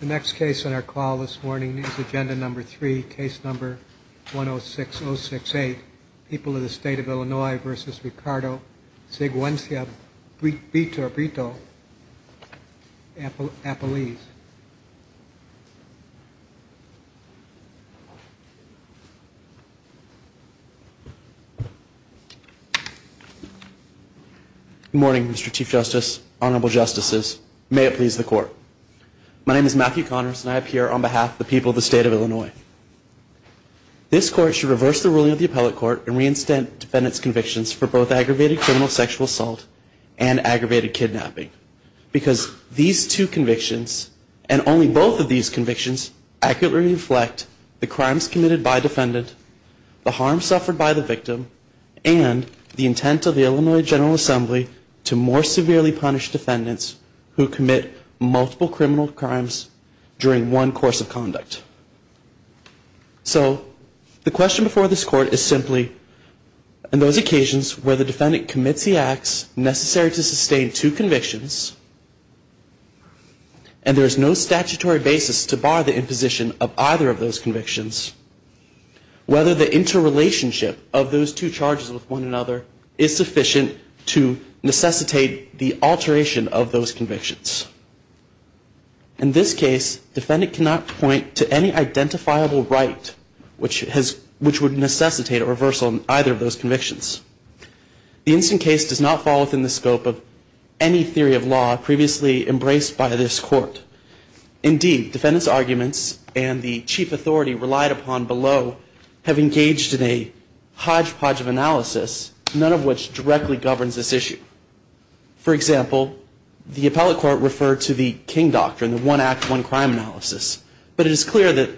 The next case on our call this morning is Agenda No. 3, Case No. 106068, People of the State of Illinois v. Ricardo Siguenza-Brito, Appalachia. Please. Good morning, Mr. Chief Justice, Honorable Justices. May it please the Court. My name is Matthew Connors, and I appear on behalf of the people of the State of Illinois. This Court should reverse the ruling of the Appellate Court and reinstate defendants' convictions for both aggravated criminal sexual assault and aggravated kidnapping because these two convictions, and only both of these convictions, accurately reflect the crimes committed by a defendant, the harm suffered by the victim, and the intent of the Illinois General Assembly to more severely punish defendants who commit multiple criminal crimes during one course of conduct. So, the question before this Court is simply, in those occasions where the defendant commits the acts necessary to sustain two convictions, and there is no statutory basis to bar the imposition of either of those convictions, whether the interrelationship of those two charges with one another is sufficient to necessitate the alteration of those convictions. In this case, defendant cannot point to any identifiable right which would necessitate a reversal of either of those convictions. The instant case does not fall within the scope of any theory of law previously embraced by this Court. Indeed, defendants' arguments and the chief authority relied upon below have engaged in a hodgepodge of analysis, none of which directly governs this issue. For example, the appellate court referred to the King Doctrine, the one act, one crime analysis. But it is clear that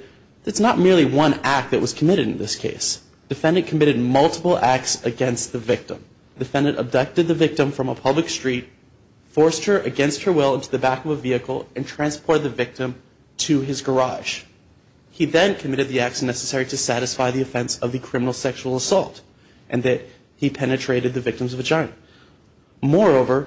it's not merely one act that was committed in this case. Defendant committed multiple acts against the victim. Defendant abducted the victim from a public street, forced her against her will into the back of a vehicle, and transported the victim to his garage. He then committed the acts necessary to satisfy the offense of the criminal sexual assault, and that he penetrated the victim's vagina. Moreover,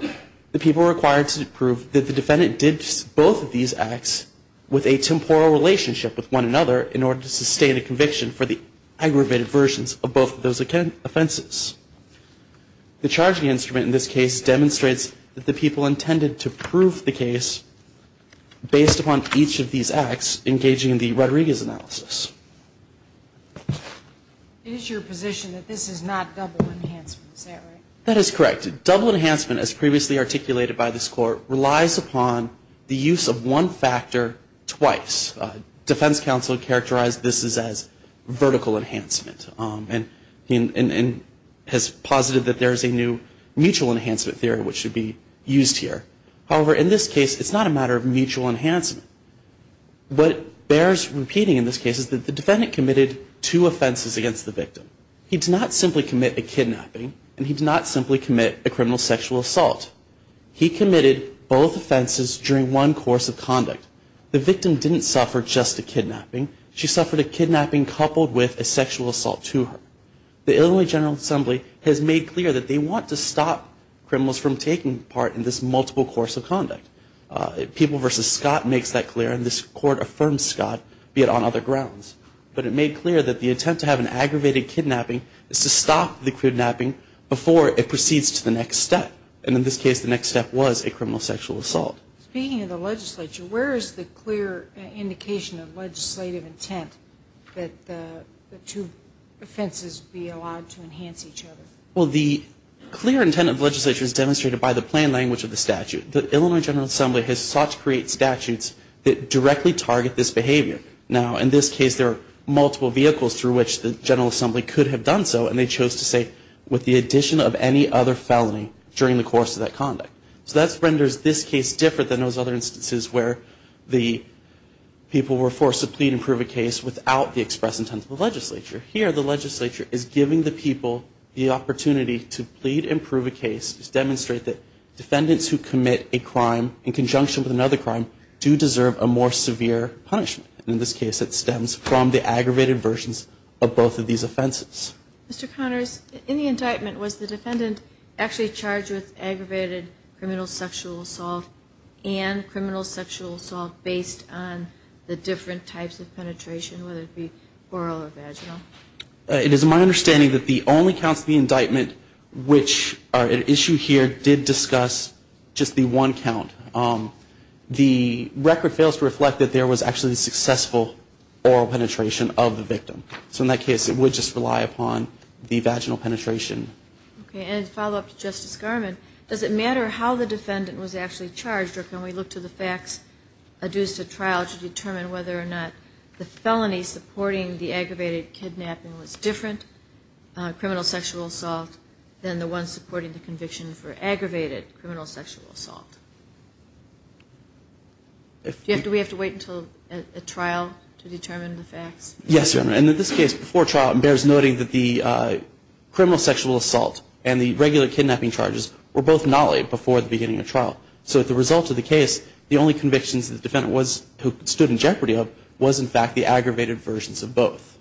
the people required to prove that the defendant did both of these acts with a temporal relationship with one another in order to sustain a conviction for the aggravated versions of both of those offenses. The charging instrument in this case demonstrates that the people intended to prove the case based upon each of these acts engaging in the Rodriguez analysis. It is your position that this is not double enhancement, is that right? That is correct. Double enhancement, as previously articulated by this court, relies upon the use of one factor twice. Defense counsel characterized this as vertical enhancement, and has posited that there is a new mutual enhancement theory which should be used here. However, in this case, it's not a matter of mutual enhancement. What bears repeating in this case is that the defendant committed two offenses against the victim. He did not simply commit a kidnapping, and he did not simply commit a criminal sexual assault. He committed both offenses during one course of conduct. The victim didn't suffer just a kidnapping. She suffered a kidnapping coupled with a sexual assault to her. The Illinois General Assembly has made clear that they want to stop criminals from taking part in this multiple course of conduct. People v. Scott makes that clear, and this court affirms Scott, be it on other grounds. But it made clear that the attempt to have an aggravated kidnapping is to stop the kidnapping before it proceeds to the next step. And in this case, the next step was a criminal sexual assault. Speaking of the legislature, where is the clear indication of legislative intent that the two offenses be allowed to enhance each other? Well, the clear intent of the legislature is demonstrated by the plain language of the statute. The Illinois General Assembly has sought to create statutes that directly target this behavior. Now, in this case, there are multiple vehicles through which the General Assembly could have done so, and they chose to say, with the addition of any other felony during the course of that conduct. So that renders this case different than those other instances where the people were forced to plead and prove a case without the express intent of the legislature. Here, the legislature is giving the people the opportunity to plead and prove a case, to demonstrate that defendants who commit a crime in conjunction with another crime do deserve a more severe punishment. In this case, it stems from the aggravated versions of both of these offenses. Mr. Connors, in the indictment, was the defendant actually charged with aggravated criminal sexual assault and criminal sexual assault based on the different types of penetration, whether it be oral or vaginal? It is my understanding that the only counts of the indictment which are at issue here did discuss just the one count. The record fails to reflect that there was actually successful oral penetration of the victim. So in that case, it would just rely upon the vaginal penetration. Okay, and to follow up to Justice Garmon, does it matter how the defendant was actually charged, or can we look to the facts to determine whether or not the felony supporting the aggravated kidnapping was different criminal sexual assault than the one supporting the conviction for aggravated criminal sexual assault? Do we have to wait until a trial to determine the facts? Yes, Your Honor, and in this case, before trial, it bears noting that the criminal sexual assault and the regular kidnapping charges were both not laid before the beginning of trial. So as a result of the case, the only convictions the defendant stood in jeopardy of was in fact the aggravated versions of both.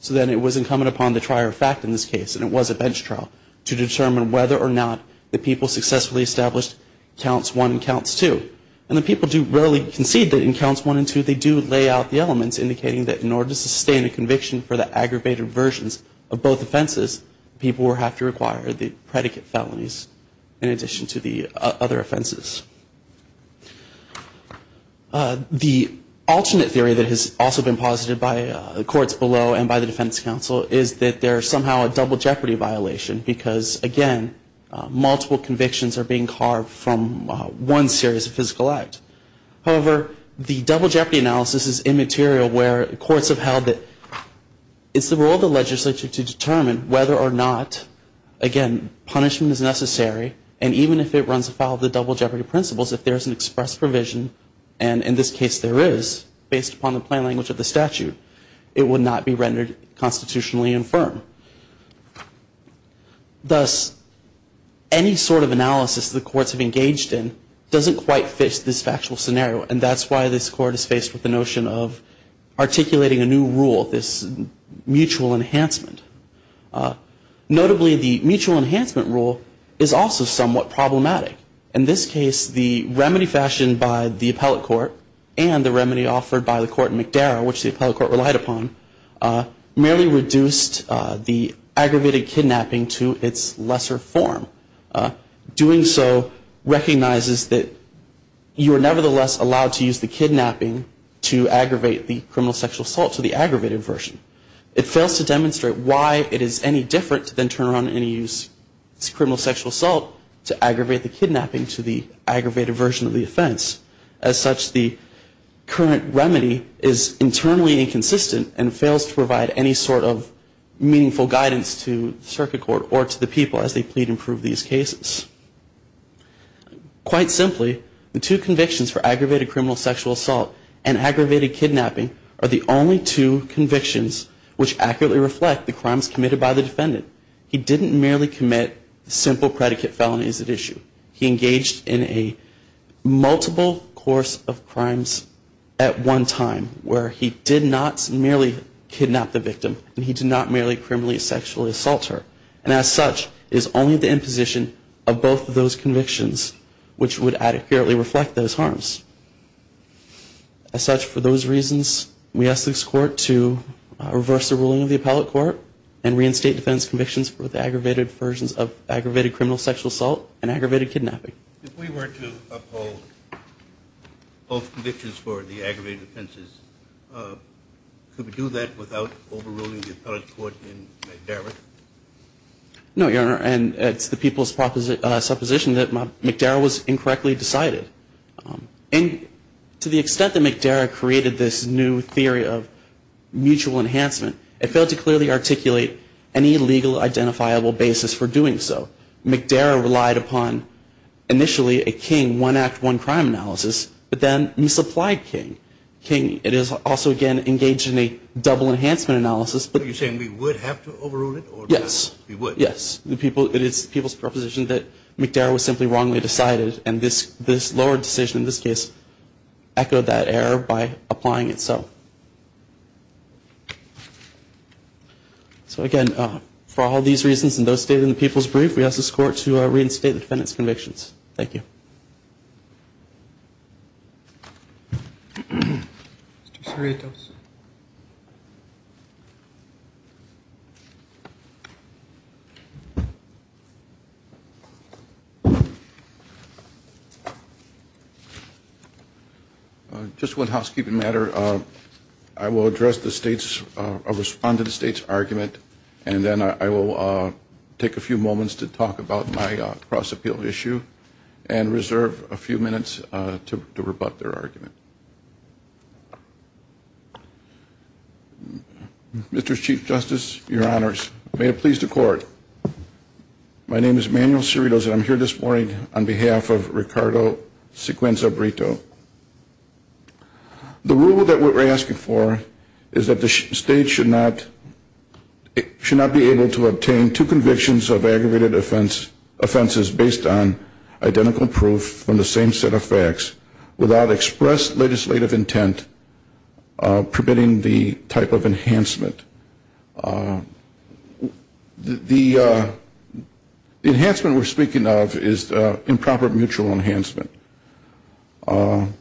So then it was incumbent upon the trier of fact in this case, and it was a bench trial, to determine whether or not the people successfully established counts one and counts two. And the people do rarely concede that in counts one and two, they do lay out the elements indicating that in order to sustain a conviction for the aggravated versions of both offenses, people would have to require the predicate felonies in addition to the other offenses. The alternate theory that has also been posited by the courts below and by the defense counsel is that there is somehow a double jeopardy violation because, again, multiple convictions are being carved from one series of physical acts. However, the double jeopardy analysis is immaterial where courts have held that it's the role of the legislature to determine whether or not, again, punishment is necessary, and even if it runs afoul of the double jeopardy principles, if there is an express provision, and in this case there is, based upon the plain language of the statute, it would not be rendered constitutionally infirm. Thus, any sort of analysis the courts have engaged in doesn't quite fit this factual scenario, and that's why this court is faced with the notion of articulating a new rule, this mutual enhancement. Notably, the mutual enhancement rule is also somewhat problematic. In this case, the remedy fashioned by the appellate court and the remedy offered by the court in McDarrow, which the appellate court relied upon, merely reduced the aggravated kidnapping to its lesser form. Doing so recognizes that you are nevertheless allowed to use the kidnapping to aggravate the criminal sexual assault to the aggravated version. It fails to demonstrate why it is any different than turn around and use criminal sexual assault to aggravate the kidnapping to the aggravated version of the offense. As such, the current remedy is internally inconsistent and fails to provide any sort of meaningful guidance to the circuit court or to the people as they plead and prove these cases. Quite simply, the two convictions for aggravated criminal sexual assault and aggravated kidnapping are the only two convictions which accurately reflect the crimes committed by the defendant. He didn't merely commit simple predicate felonies at issue. He engaged in a multiple course of crimes at one time where he did not merely kidnap the victim and he did not merely criminally sexually assault her. And as such, it is only the imposition of both of those convictions which would accurately reflect those harms. As such, for those reasons, we ask this court to reverse the ruling of the appellate court and reinstate defense convictions for the aggravated versions of aggravated criminal sexual assault and aggravated kidnapping. If we were to uphold both convictions for the aggravated offenses, could we do that without overruling the appellate court in McDarrah? No, Your Honor, and it's the people's supposition that McDarrah was incorrectly decided. And to the extent that McDarrah created this new theory of mutual enhancement, it failed to clearly articulate any legal identifiable basis for doing so. McDarrah relied upon initially a king, one act, one crime analysis, but then misapplied king. King, it is also, again, engaged in a double enhancement analysis. Are you saying we would have to overrule it? Yes. We would. Yes. It is the people's proposition that McDarrah was simply wrongly decided and this lower decision in this case echoed that error by applying it so. So, again, for all these reasons and those stated in the people's brief, we ask this court to reinstate the defendant's convictions. Mr. Cerritos. Just one housekeeping matter. I will address the State's, respond to the State's argument, and then I will take a few moments to talk about my cross-appeal issue and reserve a few minutes to rebut their argument. Mr. Chief Justice, your honors, may it please the court. My name is Manuel Cerritos and I'm here this morning on behalf of Ricardo Sequenza-Brito. The rule that we're asking for is that the State should not be able to obtain two convictions of aggravated offenses based on identical proof from the same set of facts without express legislative intent permitting the type of enhancement. The enhancement we're speaking of is improper mutual enhancement. In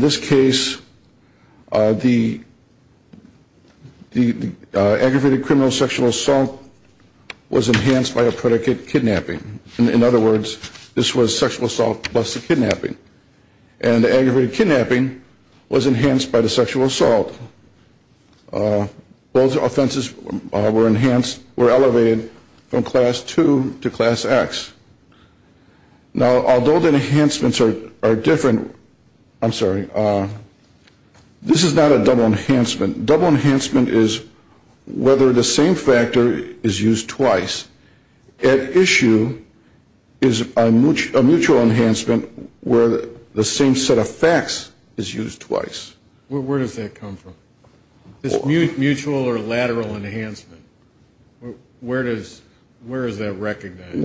this case, the aggravated criminal sexual assault was enhanced by a predicate kidnapping. In other words, this was sexual assault plus the kidnapping. And the aggravated kidnapping was enhanced by the sexual assault. Those offenses were enhanced, were elevated from Class II to Class X. Now, although the enhancements are different, I'm sorry, this is not a double enhancement. Double enhancement is whether the same factor is used twice. At issue is a mutual enhancement where the same set of facts is used twice. Where does that come from? This mutual or lateral enhancement, where is that recognized?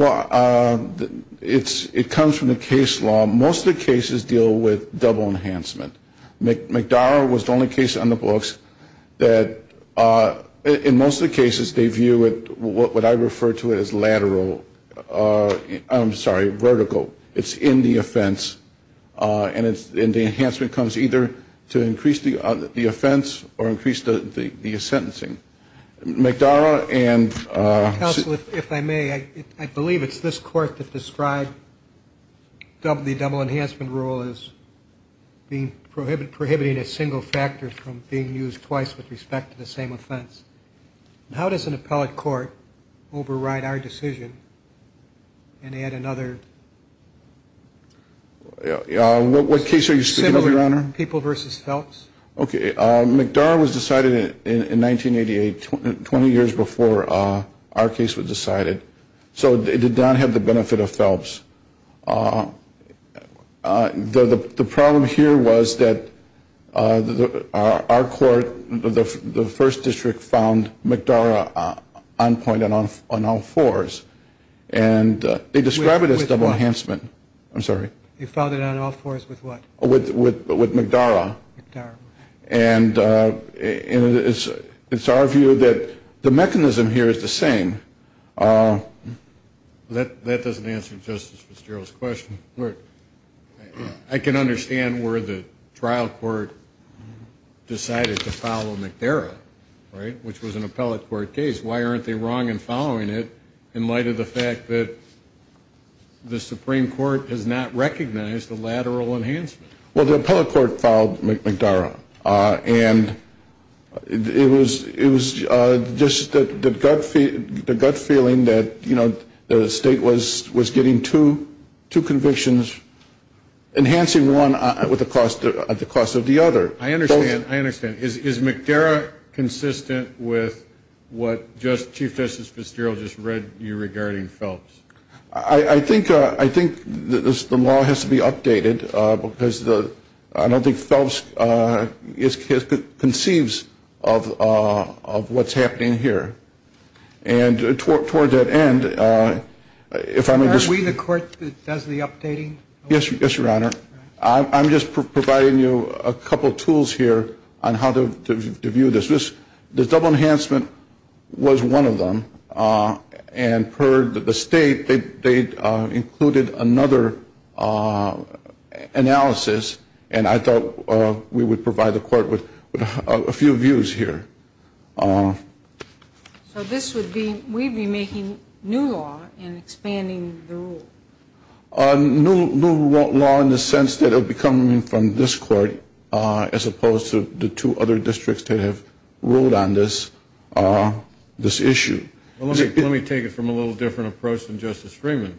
It comes from the case law. Most of the cases deal with double enhancement. McDowell was the only case on the books that in most of the cases they view it, what I refer to as lateral, I'm sorry, vertical. It's in the offense and the enhancement comes either to increase the offense or increase the sentencing. McDowell and. Counsel, if I may, I believe it's this court that described the double enhancement rule as prohibiting a single factor from being used twice with respect to the same offense. How does an appellate court override our decision and add another? What case are you speaking of, Your Honor? People v. Phelps. Okay. McDowell was decided in 1988, 20 years before our case was decided. So it did not have the benefit of Phelps. The problem here was that our court, the first district, found McDowell on point on all fours. And they describe it as double enhancement. I'm sorry. You found it on all fours with what? With McDowell. McDowell. And it's our view that the mechanism here is the same. That doesn't answer Justice Fitzgerald's question. I can understand where the trial court decided to follow McDowell, right, which was an appellate court case. Why aren't they wrong in following it in light of the fact that the Supreme Court does not recognize the lateral enhancement? Well, the appellate court filed McDowell. And it was just the gut feeling that, you know, the state was getting two convictions, enhancing one at the cost of the other. I understand. I understand. Is McDowell consistent with what Chief Justice Fitzgerald just read you regarding Phelps? I think the law has to be updated because I don't think Phelps conceives of what's happening here. And toward that end, if I may just ---- Are we the court that does the updating? Yes, Your Honor. I'm just providing you a couple tools here on how to view this. The double enhancement was one of them. And per the state, they included another analysis. And I thought we would provide the court with a few views here. So this would be we'd be making new law and expanding the rule? New law in the sense that it would be coming from this court as opposed to the two other districts that have ruled on this issue. Let me take it from a little different approach than Justice Freeman.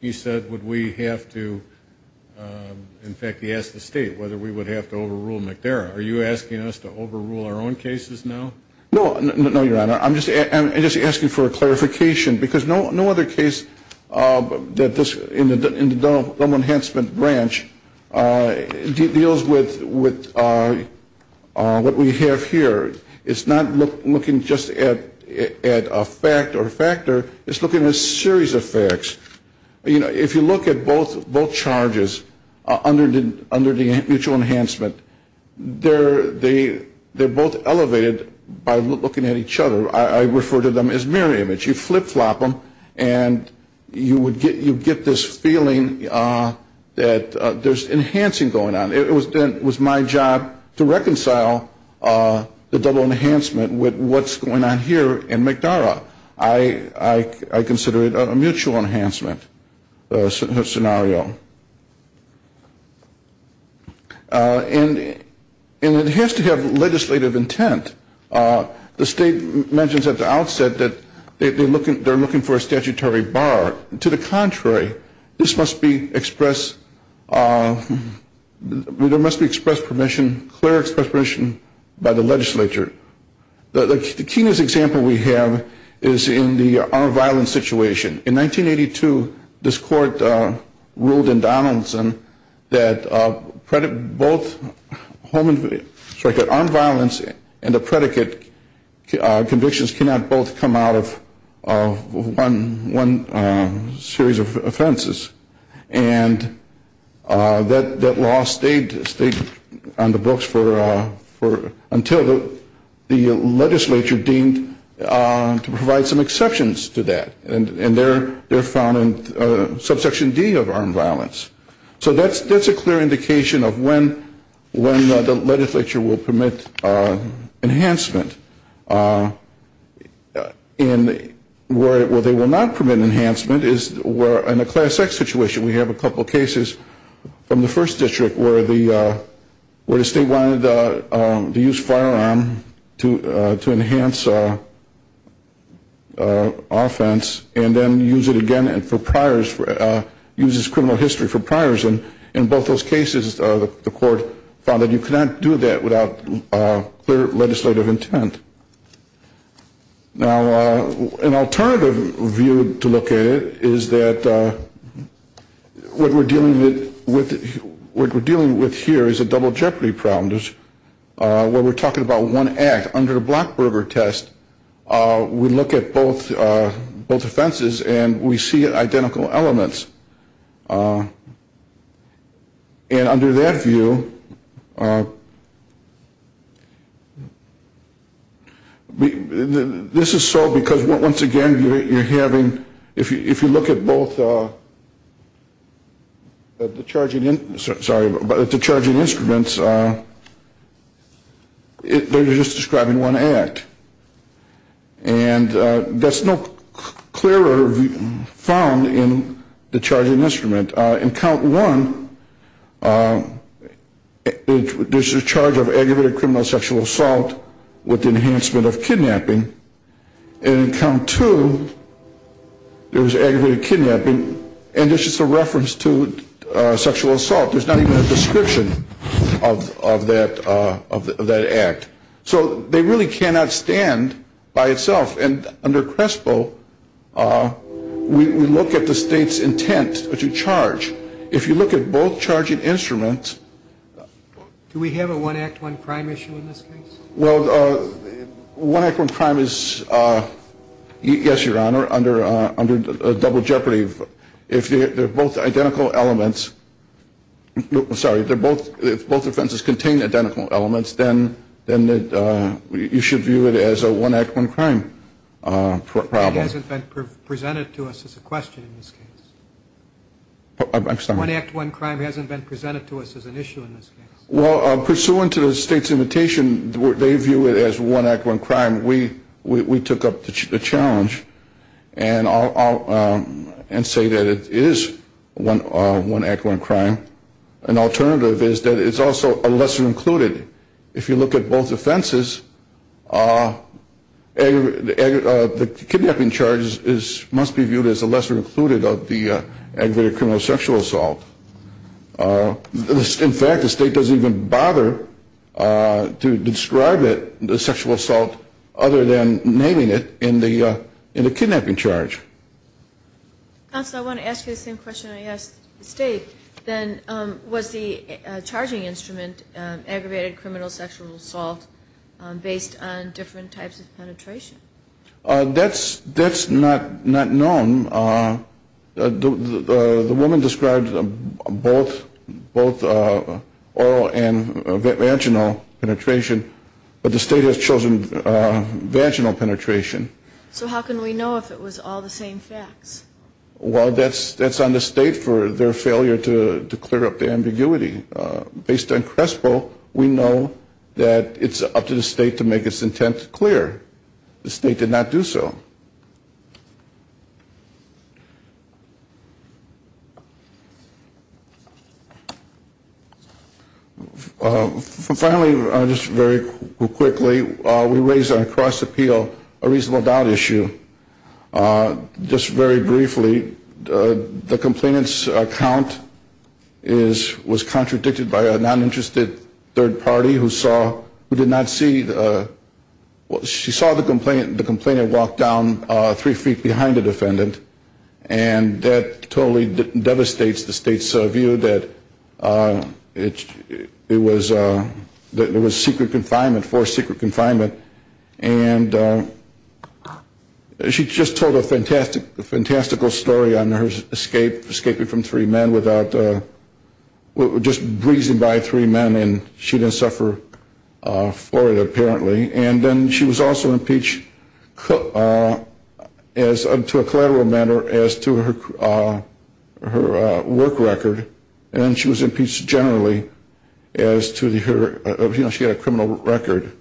He said would we have to, in fact, he asked the state whether we would have to overrule McDowell. Are you asking us to overrule our own cases now? No, Your Honor. I'm just asking for a clarification because no other case in the double enhancement branch deals with what we have here. It's not looking just at a fact or a factor. It's looking at a series of facts. If you look at both charges under the mutual enhancement, they're both elevated by looking at each other. I refer to them as mirror image. You flip-flop them and you get this feeling that there's enhancing going on. It was my job to reconcile the double enhancement with what's going on here in McDowell. I consider it a mutual enhancement scenario. And it has to have legislative intent. The state mentions at the outset that they're looking for a statutory bar. To the contrary, this must be expressed, there must be clear express permission by the legislature. The keenest example we have is in the armed violence situation. In 1982, this court ruled in Donaldson that both home and, sorry, that armed violence and the predicate convictions cannot both come out of one series of offenses. And that law stayed on the books until the legislature deemed to provide some exceptions to that. And they're found in subsection D of armed violence. So that's a clear indication of when the legislature will permit enhancement. And where they will not permit enhancement is where, in a class X situation, we have a couple cases from the first district where the state wanted to use firearm to enhance offense and then use it again for priors, uses criminal history for priors. And in both those cases, the court found that you cannot do that without clear legislative intent. Now, an alternative view to look at it is that what we're dealing with here is a double jeopardy problem. Where we're talking about one act. Under the Blackberger test, we look at both offenses and we see identical elements. And under that view, this is so because, once again, you're having, if you look at both, the charging instruments, they're just describing one act. And that's no clearer found in the charging instrument. In count one, there's a charge of aggravated criminal sexual assault with enhancement of kidnapping. And in count two, there was aggravated kidnapping. And this is a reference to sexual assault. There's not even a description of that act. So they really cannot stand by itself. And under CRESPO, we look at the state's intent to charge. If you look at both charging instruments. Do we have a one act, one crime issue in this case? Well, one act, one crime is, yes, Your Honor, under double jeopardy. If they're both identical elements, sorry, if both offenses contain identical elements, then you should view it as a one act, one crime problem. It hasn't been presented to us as a question in this case. I'm sorry? One act, one crime hasn't been presented to us as an issue in this case. Well, pursuant to the state's invitation, they view it as one act, one crime. We took up the challenge and say that it is one act, one crime. An alternative is that it's also a lesser included. If you look at both offenses, the kidnapping charge must be viewed as a lesser included of the aggravated criminal sexual assault. In fact, the state doesn't even bother to describe it, the sexual assault, other than naming it in the kidnapping charge. Counsel, I want to ask you the same question I asked the state. Was the charging instrument aggravated criminal sexual assault based on different types of penetration? That's not known. The woman described both oral and vaginal penetration, but the state has chosen vaginal penetration. So how can we know if it was all the same facts? Well, that's on the state for their failure to clear up the ambiguity. Based on CRESPO, we know that it's up to the state to make its intent clear. The state did not do so. Finally, just very quickly, we raised on cross-appeal a reasonable doubt issue. Just very briefly, the complainant's account was contradicted by a non-interested third party who saw, who did not see, she saw the complainant walk down three feet behind the defendant. And that totally devastates the state's view that it was secret confinement, forced secret confinement. And she just told a fantastical story on her escaping from three men without, just breezing by three men and she didn't suffer for it apparently. And then she was also impeached to a collateral manner as to her work record. And she was impeached generally as to her, you know, she had a criminal record.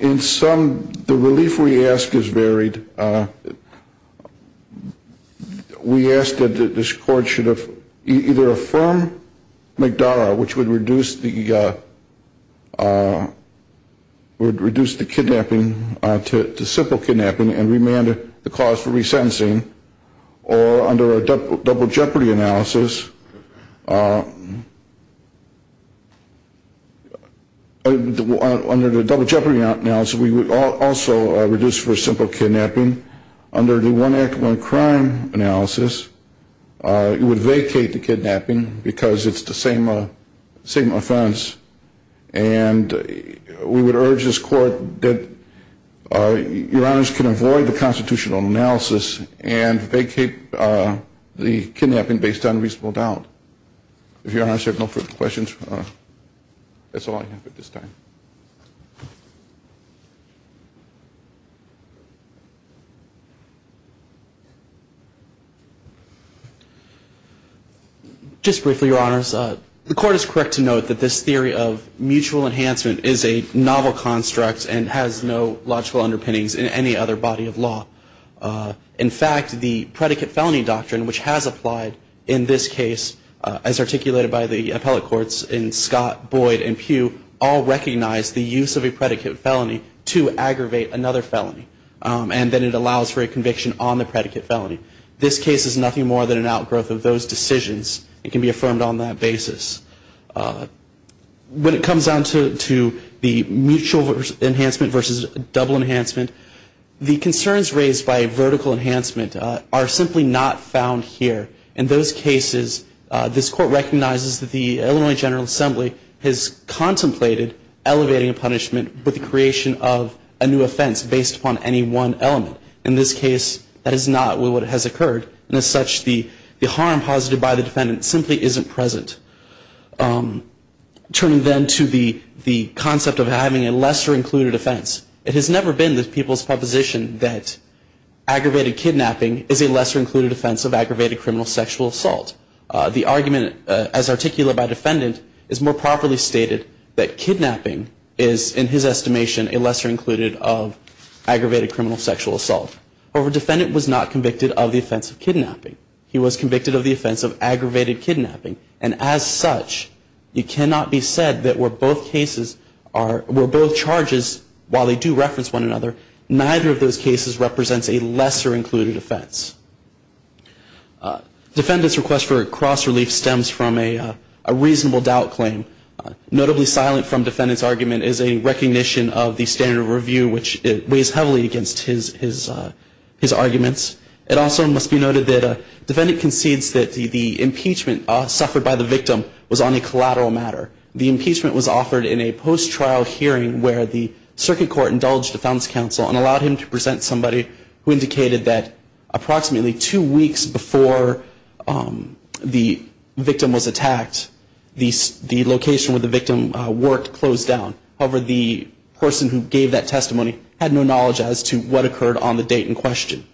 In some, the relief we ask is varied. We asked that this court should have either affirmed McDowell, which would reduce the, would reduce the kidnapping to simple kidnapping and remanded the cause for resentencing. Or under a double jeopardy analysis, under the double jeopardy analysis, we would also reduce for simple kidnapping. Under the one act, one crime analysis, it would vacate the kidnapping because it's the same offense. And we would urge this court that Your Honors can avoid the constitutional analysis and vacate the kidnapping based on reasonable doubt. If Your Honors have no further questions, that's all I have at this time. Just briefly, Your Honors. The court is correct to note that this theory of mutual enhancement is a novel construct and has no logical underpinnings in any other body of law. In fact, the predicate felony doctrine, which has applied in this case, as articulated by the appellate courts in Scott, Boyd and Pugh, all recognize the use of a predicate felony to aggravate another felony and that it allows for a conviction on the predicate felony. This case is nothing more than an outgrowth of those decisions. It can be affirmed on that basis. When it comes down to the mutual enhancement versus double enhancement, the concerns raised by vertical enhancement are simply not found here. In those cases, this court recognizes that the Illinois General Assembly has contemplated elevating a punishment with the creation of a new offense based upon any one element. In this case, that is not what has occurred. And as such, the harm caused by the defendant simply isn't present. Turning then to the concept of having a lesser included offense, it has never been the people's proposition that aggravated kidnapping is a lesser included offense of aggravated criminal sexual assault. The argument as articulated by the defendant is more properly stated that kidnapping is, in his estimation, a lesser included of aggravated criminal sexual assault. However, the defendant was not convicted of the offense of kidnapping. He was convicted of the offense of aggravated kidnapping. And as such, it cannot be said that where both charges, while they do reference one another, neither of those cases represents a lesser included offense. Defendant's request for cross-relief stems from a reasonable doubt claim. Notably silent from defendant's argument is a recognition of the standard of review, which weighs heavily against his arguments. It also must be noted that the defendant concedes that the impeachment suffered by the victim was on a collateral matter. The impeachment was offered in a post-trial hearing where the circuit court indulged a defense counsel and allowed him to present somebody who indicated that approximately two weeks before the victim was attacked, the location where the victim worked closed down. However, the person who gave that testimony had no knowledge as to what occurred on the date in question.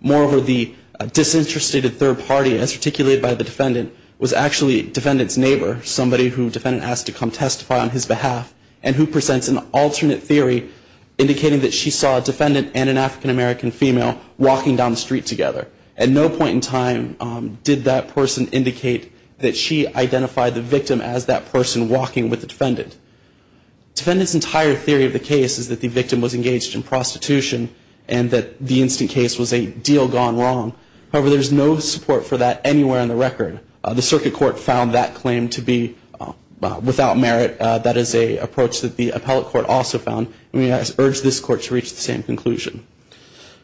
Moreover, the disinterested third party, as articulated by the defendant, was actually defendant's neighbor, somebody who defendant asked to come testify on his behalf, and who presents an alternate theory indicating that she saw a defendant and an African-American female walking down the street together. At no point in time did that person indicate that she identified the victim as that person walking with the defendant. Defendant's entire theory of the case is that the victim was engaged in prostitution and that the instant case was a deal gone wrong. However, there's no support for that anywhere in the record. The circuit court found that claim to be without merit. That is an approach that the appellate court also found. We urge this court to reach the same conclusion.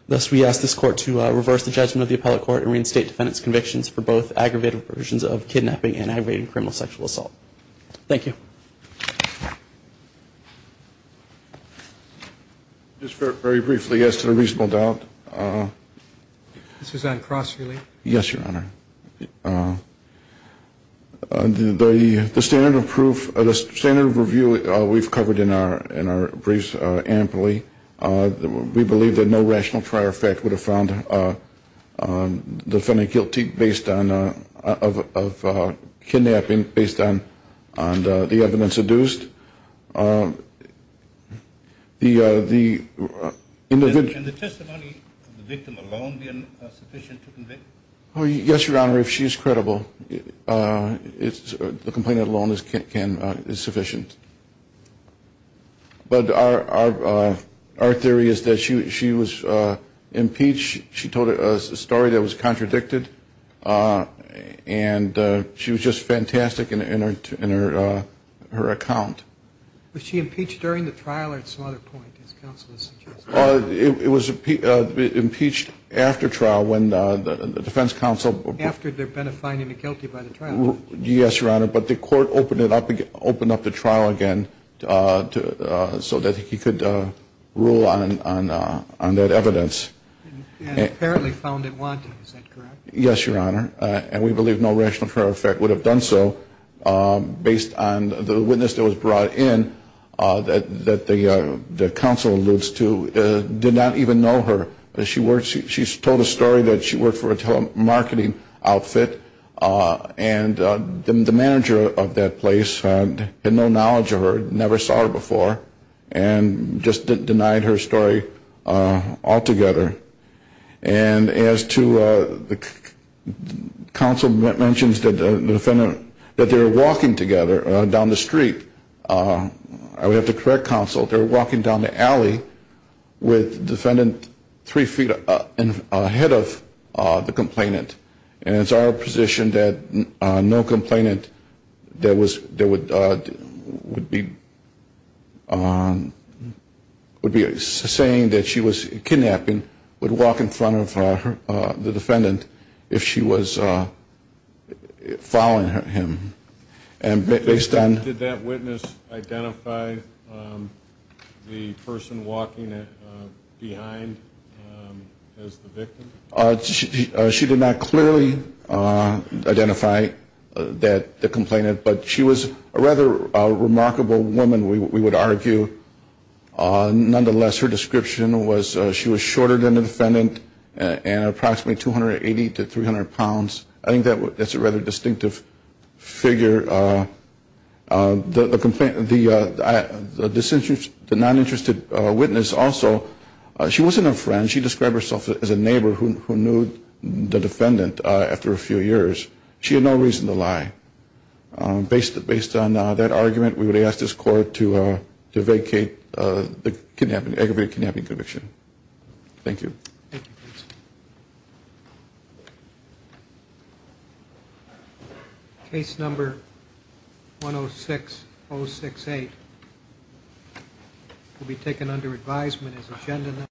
Thus, we ask this court to reverse the judgment of the appellate court and reinstate defendant's convictions for both aggravated versions of kidnapping and aggravated criminal sexual assault. Thank you. Just very briefly, yes, to the reasonable doubt. This is on cross-relief. Yes, Your Honor. The standard of proof, the standard of review we've covered in our briefs amply. We believe that no rational prior effect would have found the defendant guilty of kidnapping based on the evidence adduced. Can the testimony of the victim alone be sufficient to convict? Yes, Your Honor. If she's credible, the complaint alone is sufficient. But our theory is that she was impeached. She told a story that was contradicted, and she was just fantastic in her account. Was she impeached during the trial or at some other point, as counsel has suggested? It was impeached after trial when the defense counsel. After they're identifying him guilty by the trial? Yes, Your Honor. But the court opened up the trial again so that he could rule on that evidence. And apparently found it wanting, is that correct? Yes, Your Honor. And we believe no rational prior effect would have done so based on the witness that was brought in that the counsel alludes to did not even know her. She told a story that she worked for a telemarketing outfit, and the manager of that place had no knowledge of her, never saw her before, and just denied her story altogether. And as to the counsel mentions that the defendant, that they were walking together down the street. I would have to correct counsel. They were walking down the alley with defendant three feet ahead of the complainant. And it's our position that no complainant that would be saying that she was kidnapping would walk in front of the defendant if she was following him. Did that witness identify the person walking behind as the victim? She did not clearly identify the complainant, but she was a rather remarkable woman, we would argue. Nonetheless, her description was she was shorter than the defendant and approximately 280 to 300 pounds. I think that's a rather distinctive figure. The non-interested witness also, she wasn't a friend. She described herself as a neighbor who knew the defendant after a few years. She had no reason to lie. Based on that argument, we would ask this court to vacate the aggravated kidnapping conviction. Thank you. Thank you. Case number 106068 will be taken under advisement as agenda.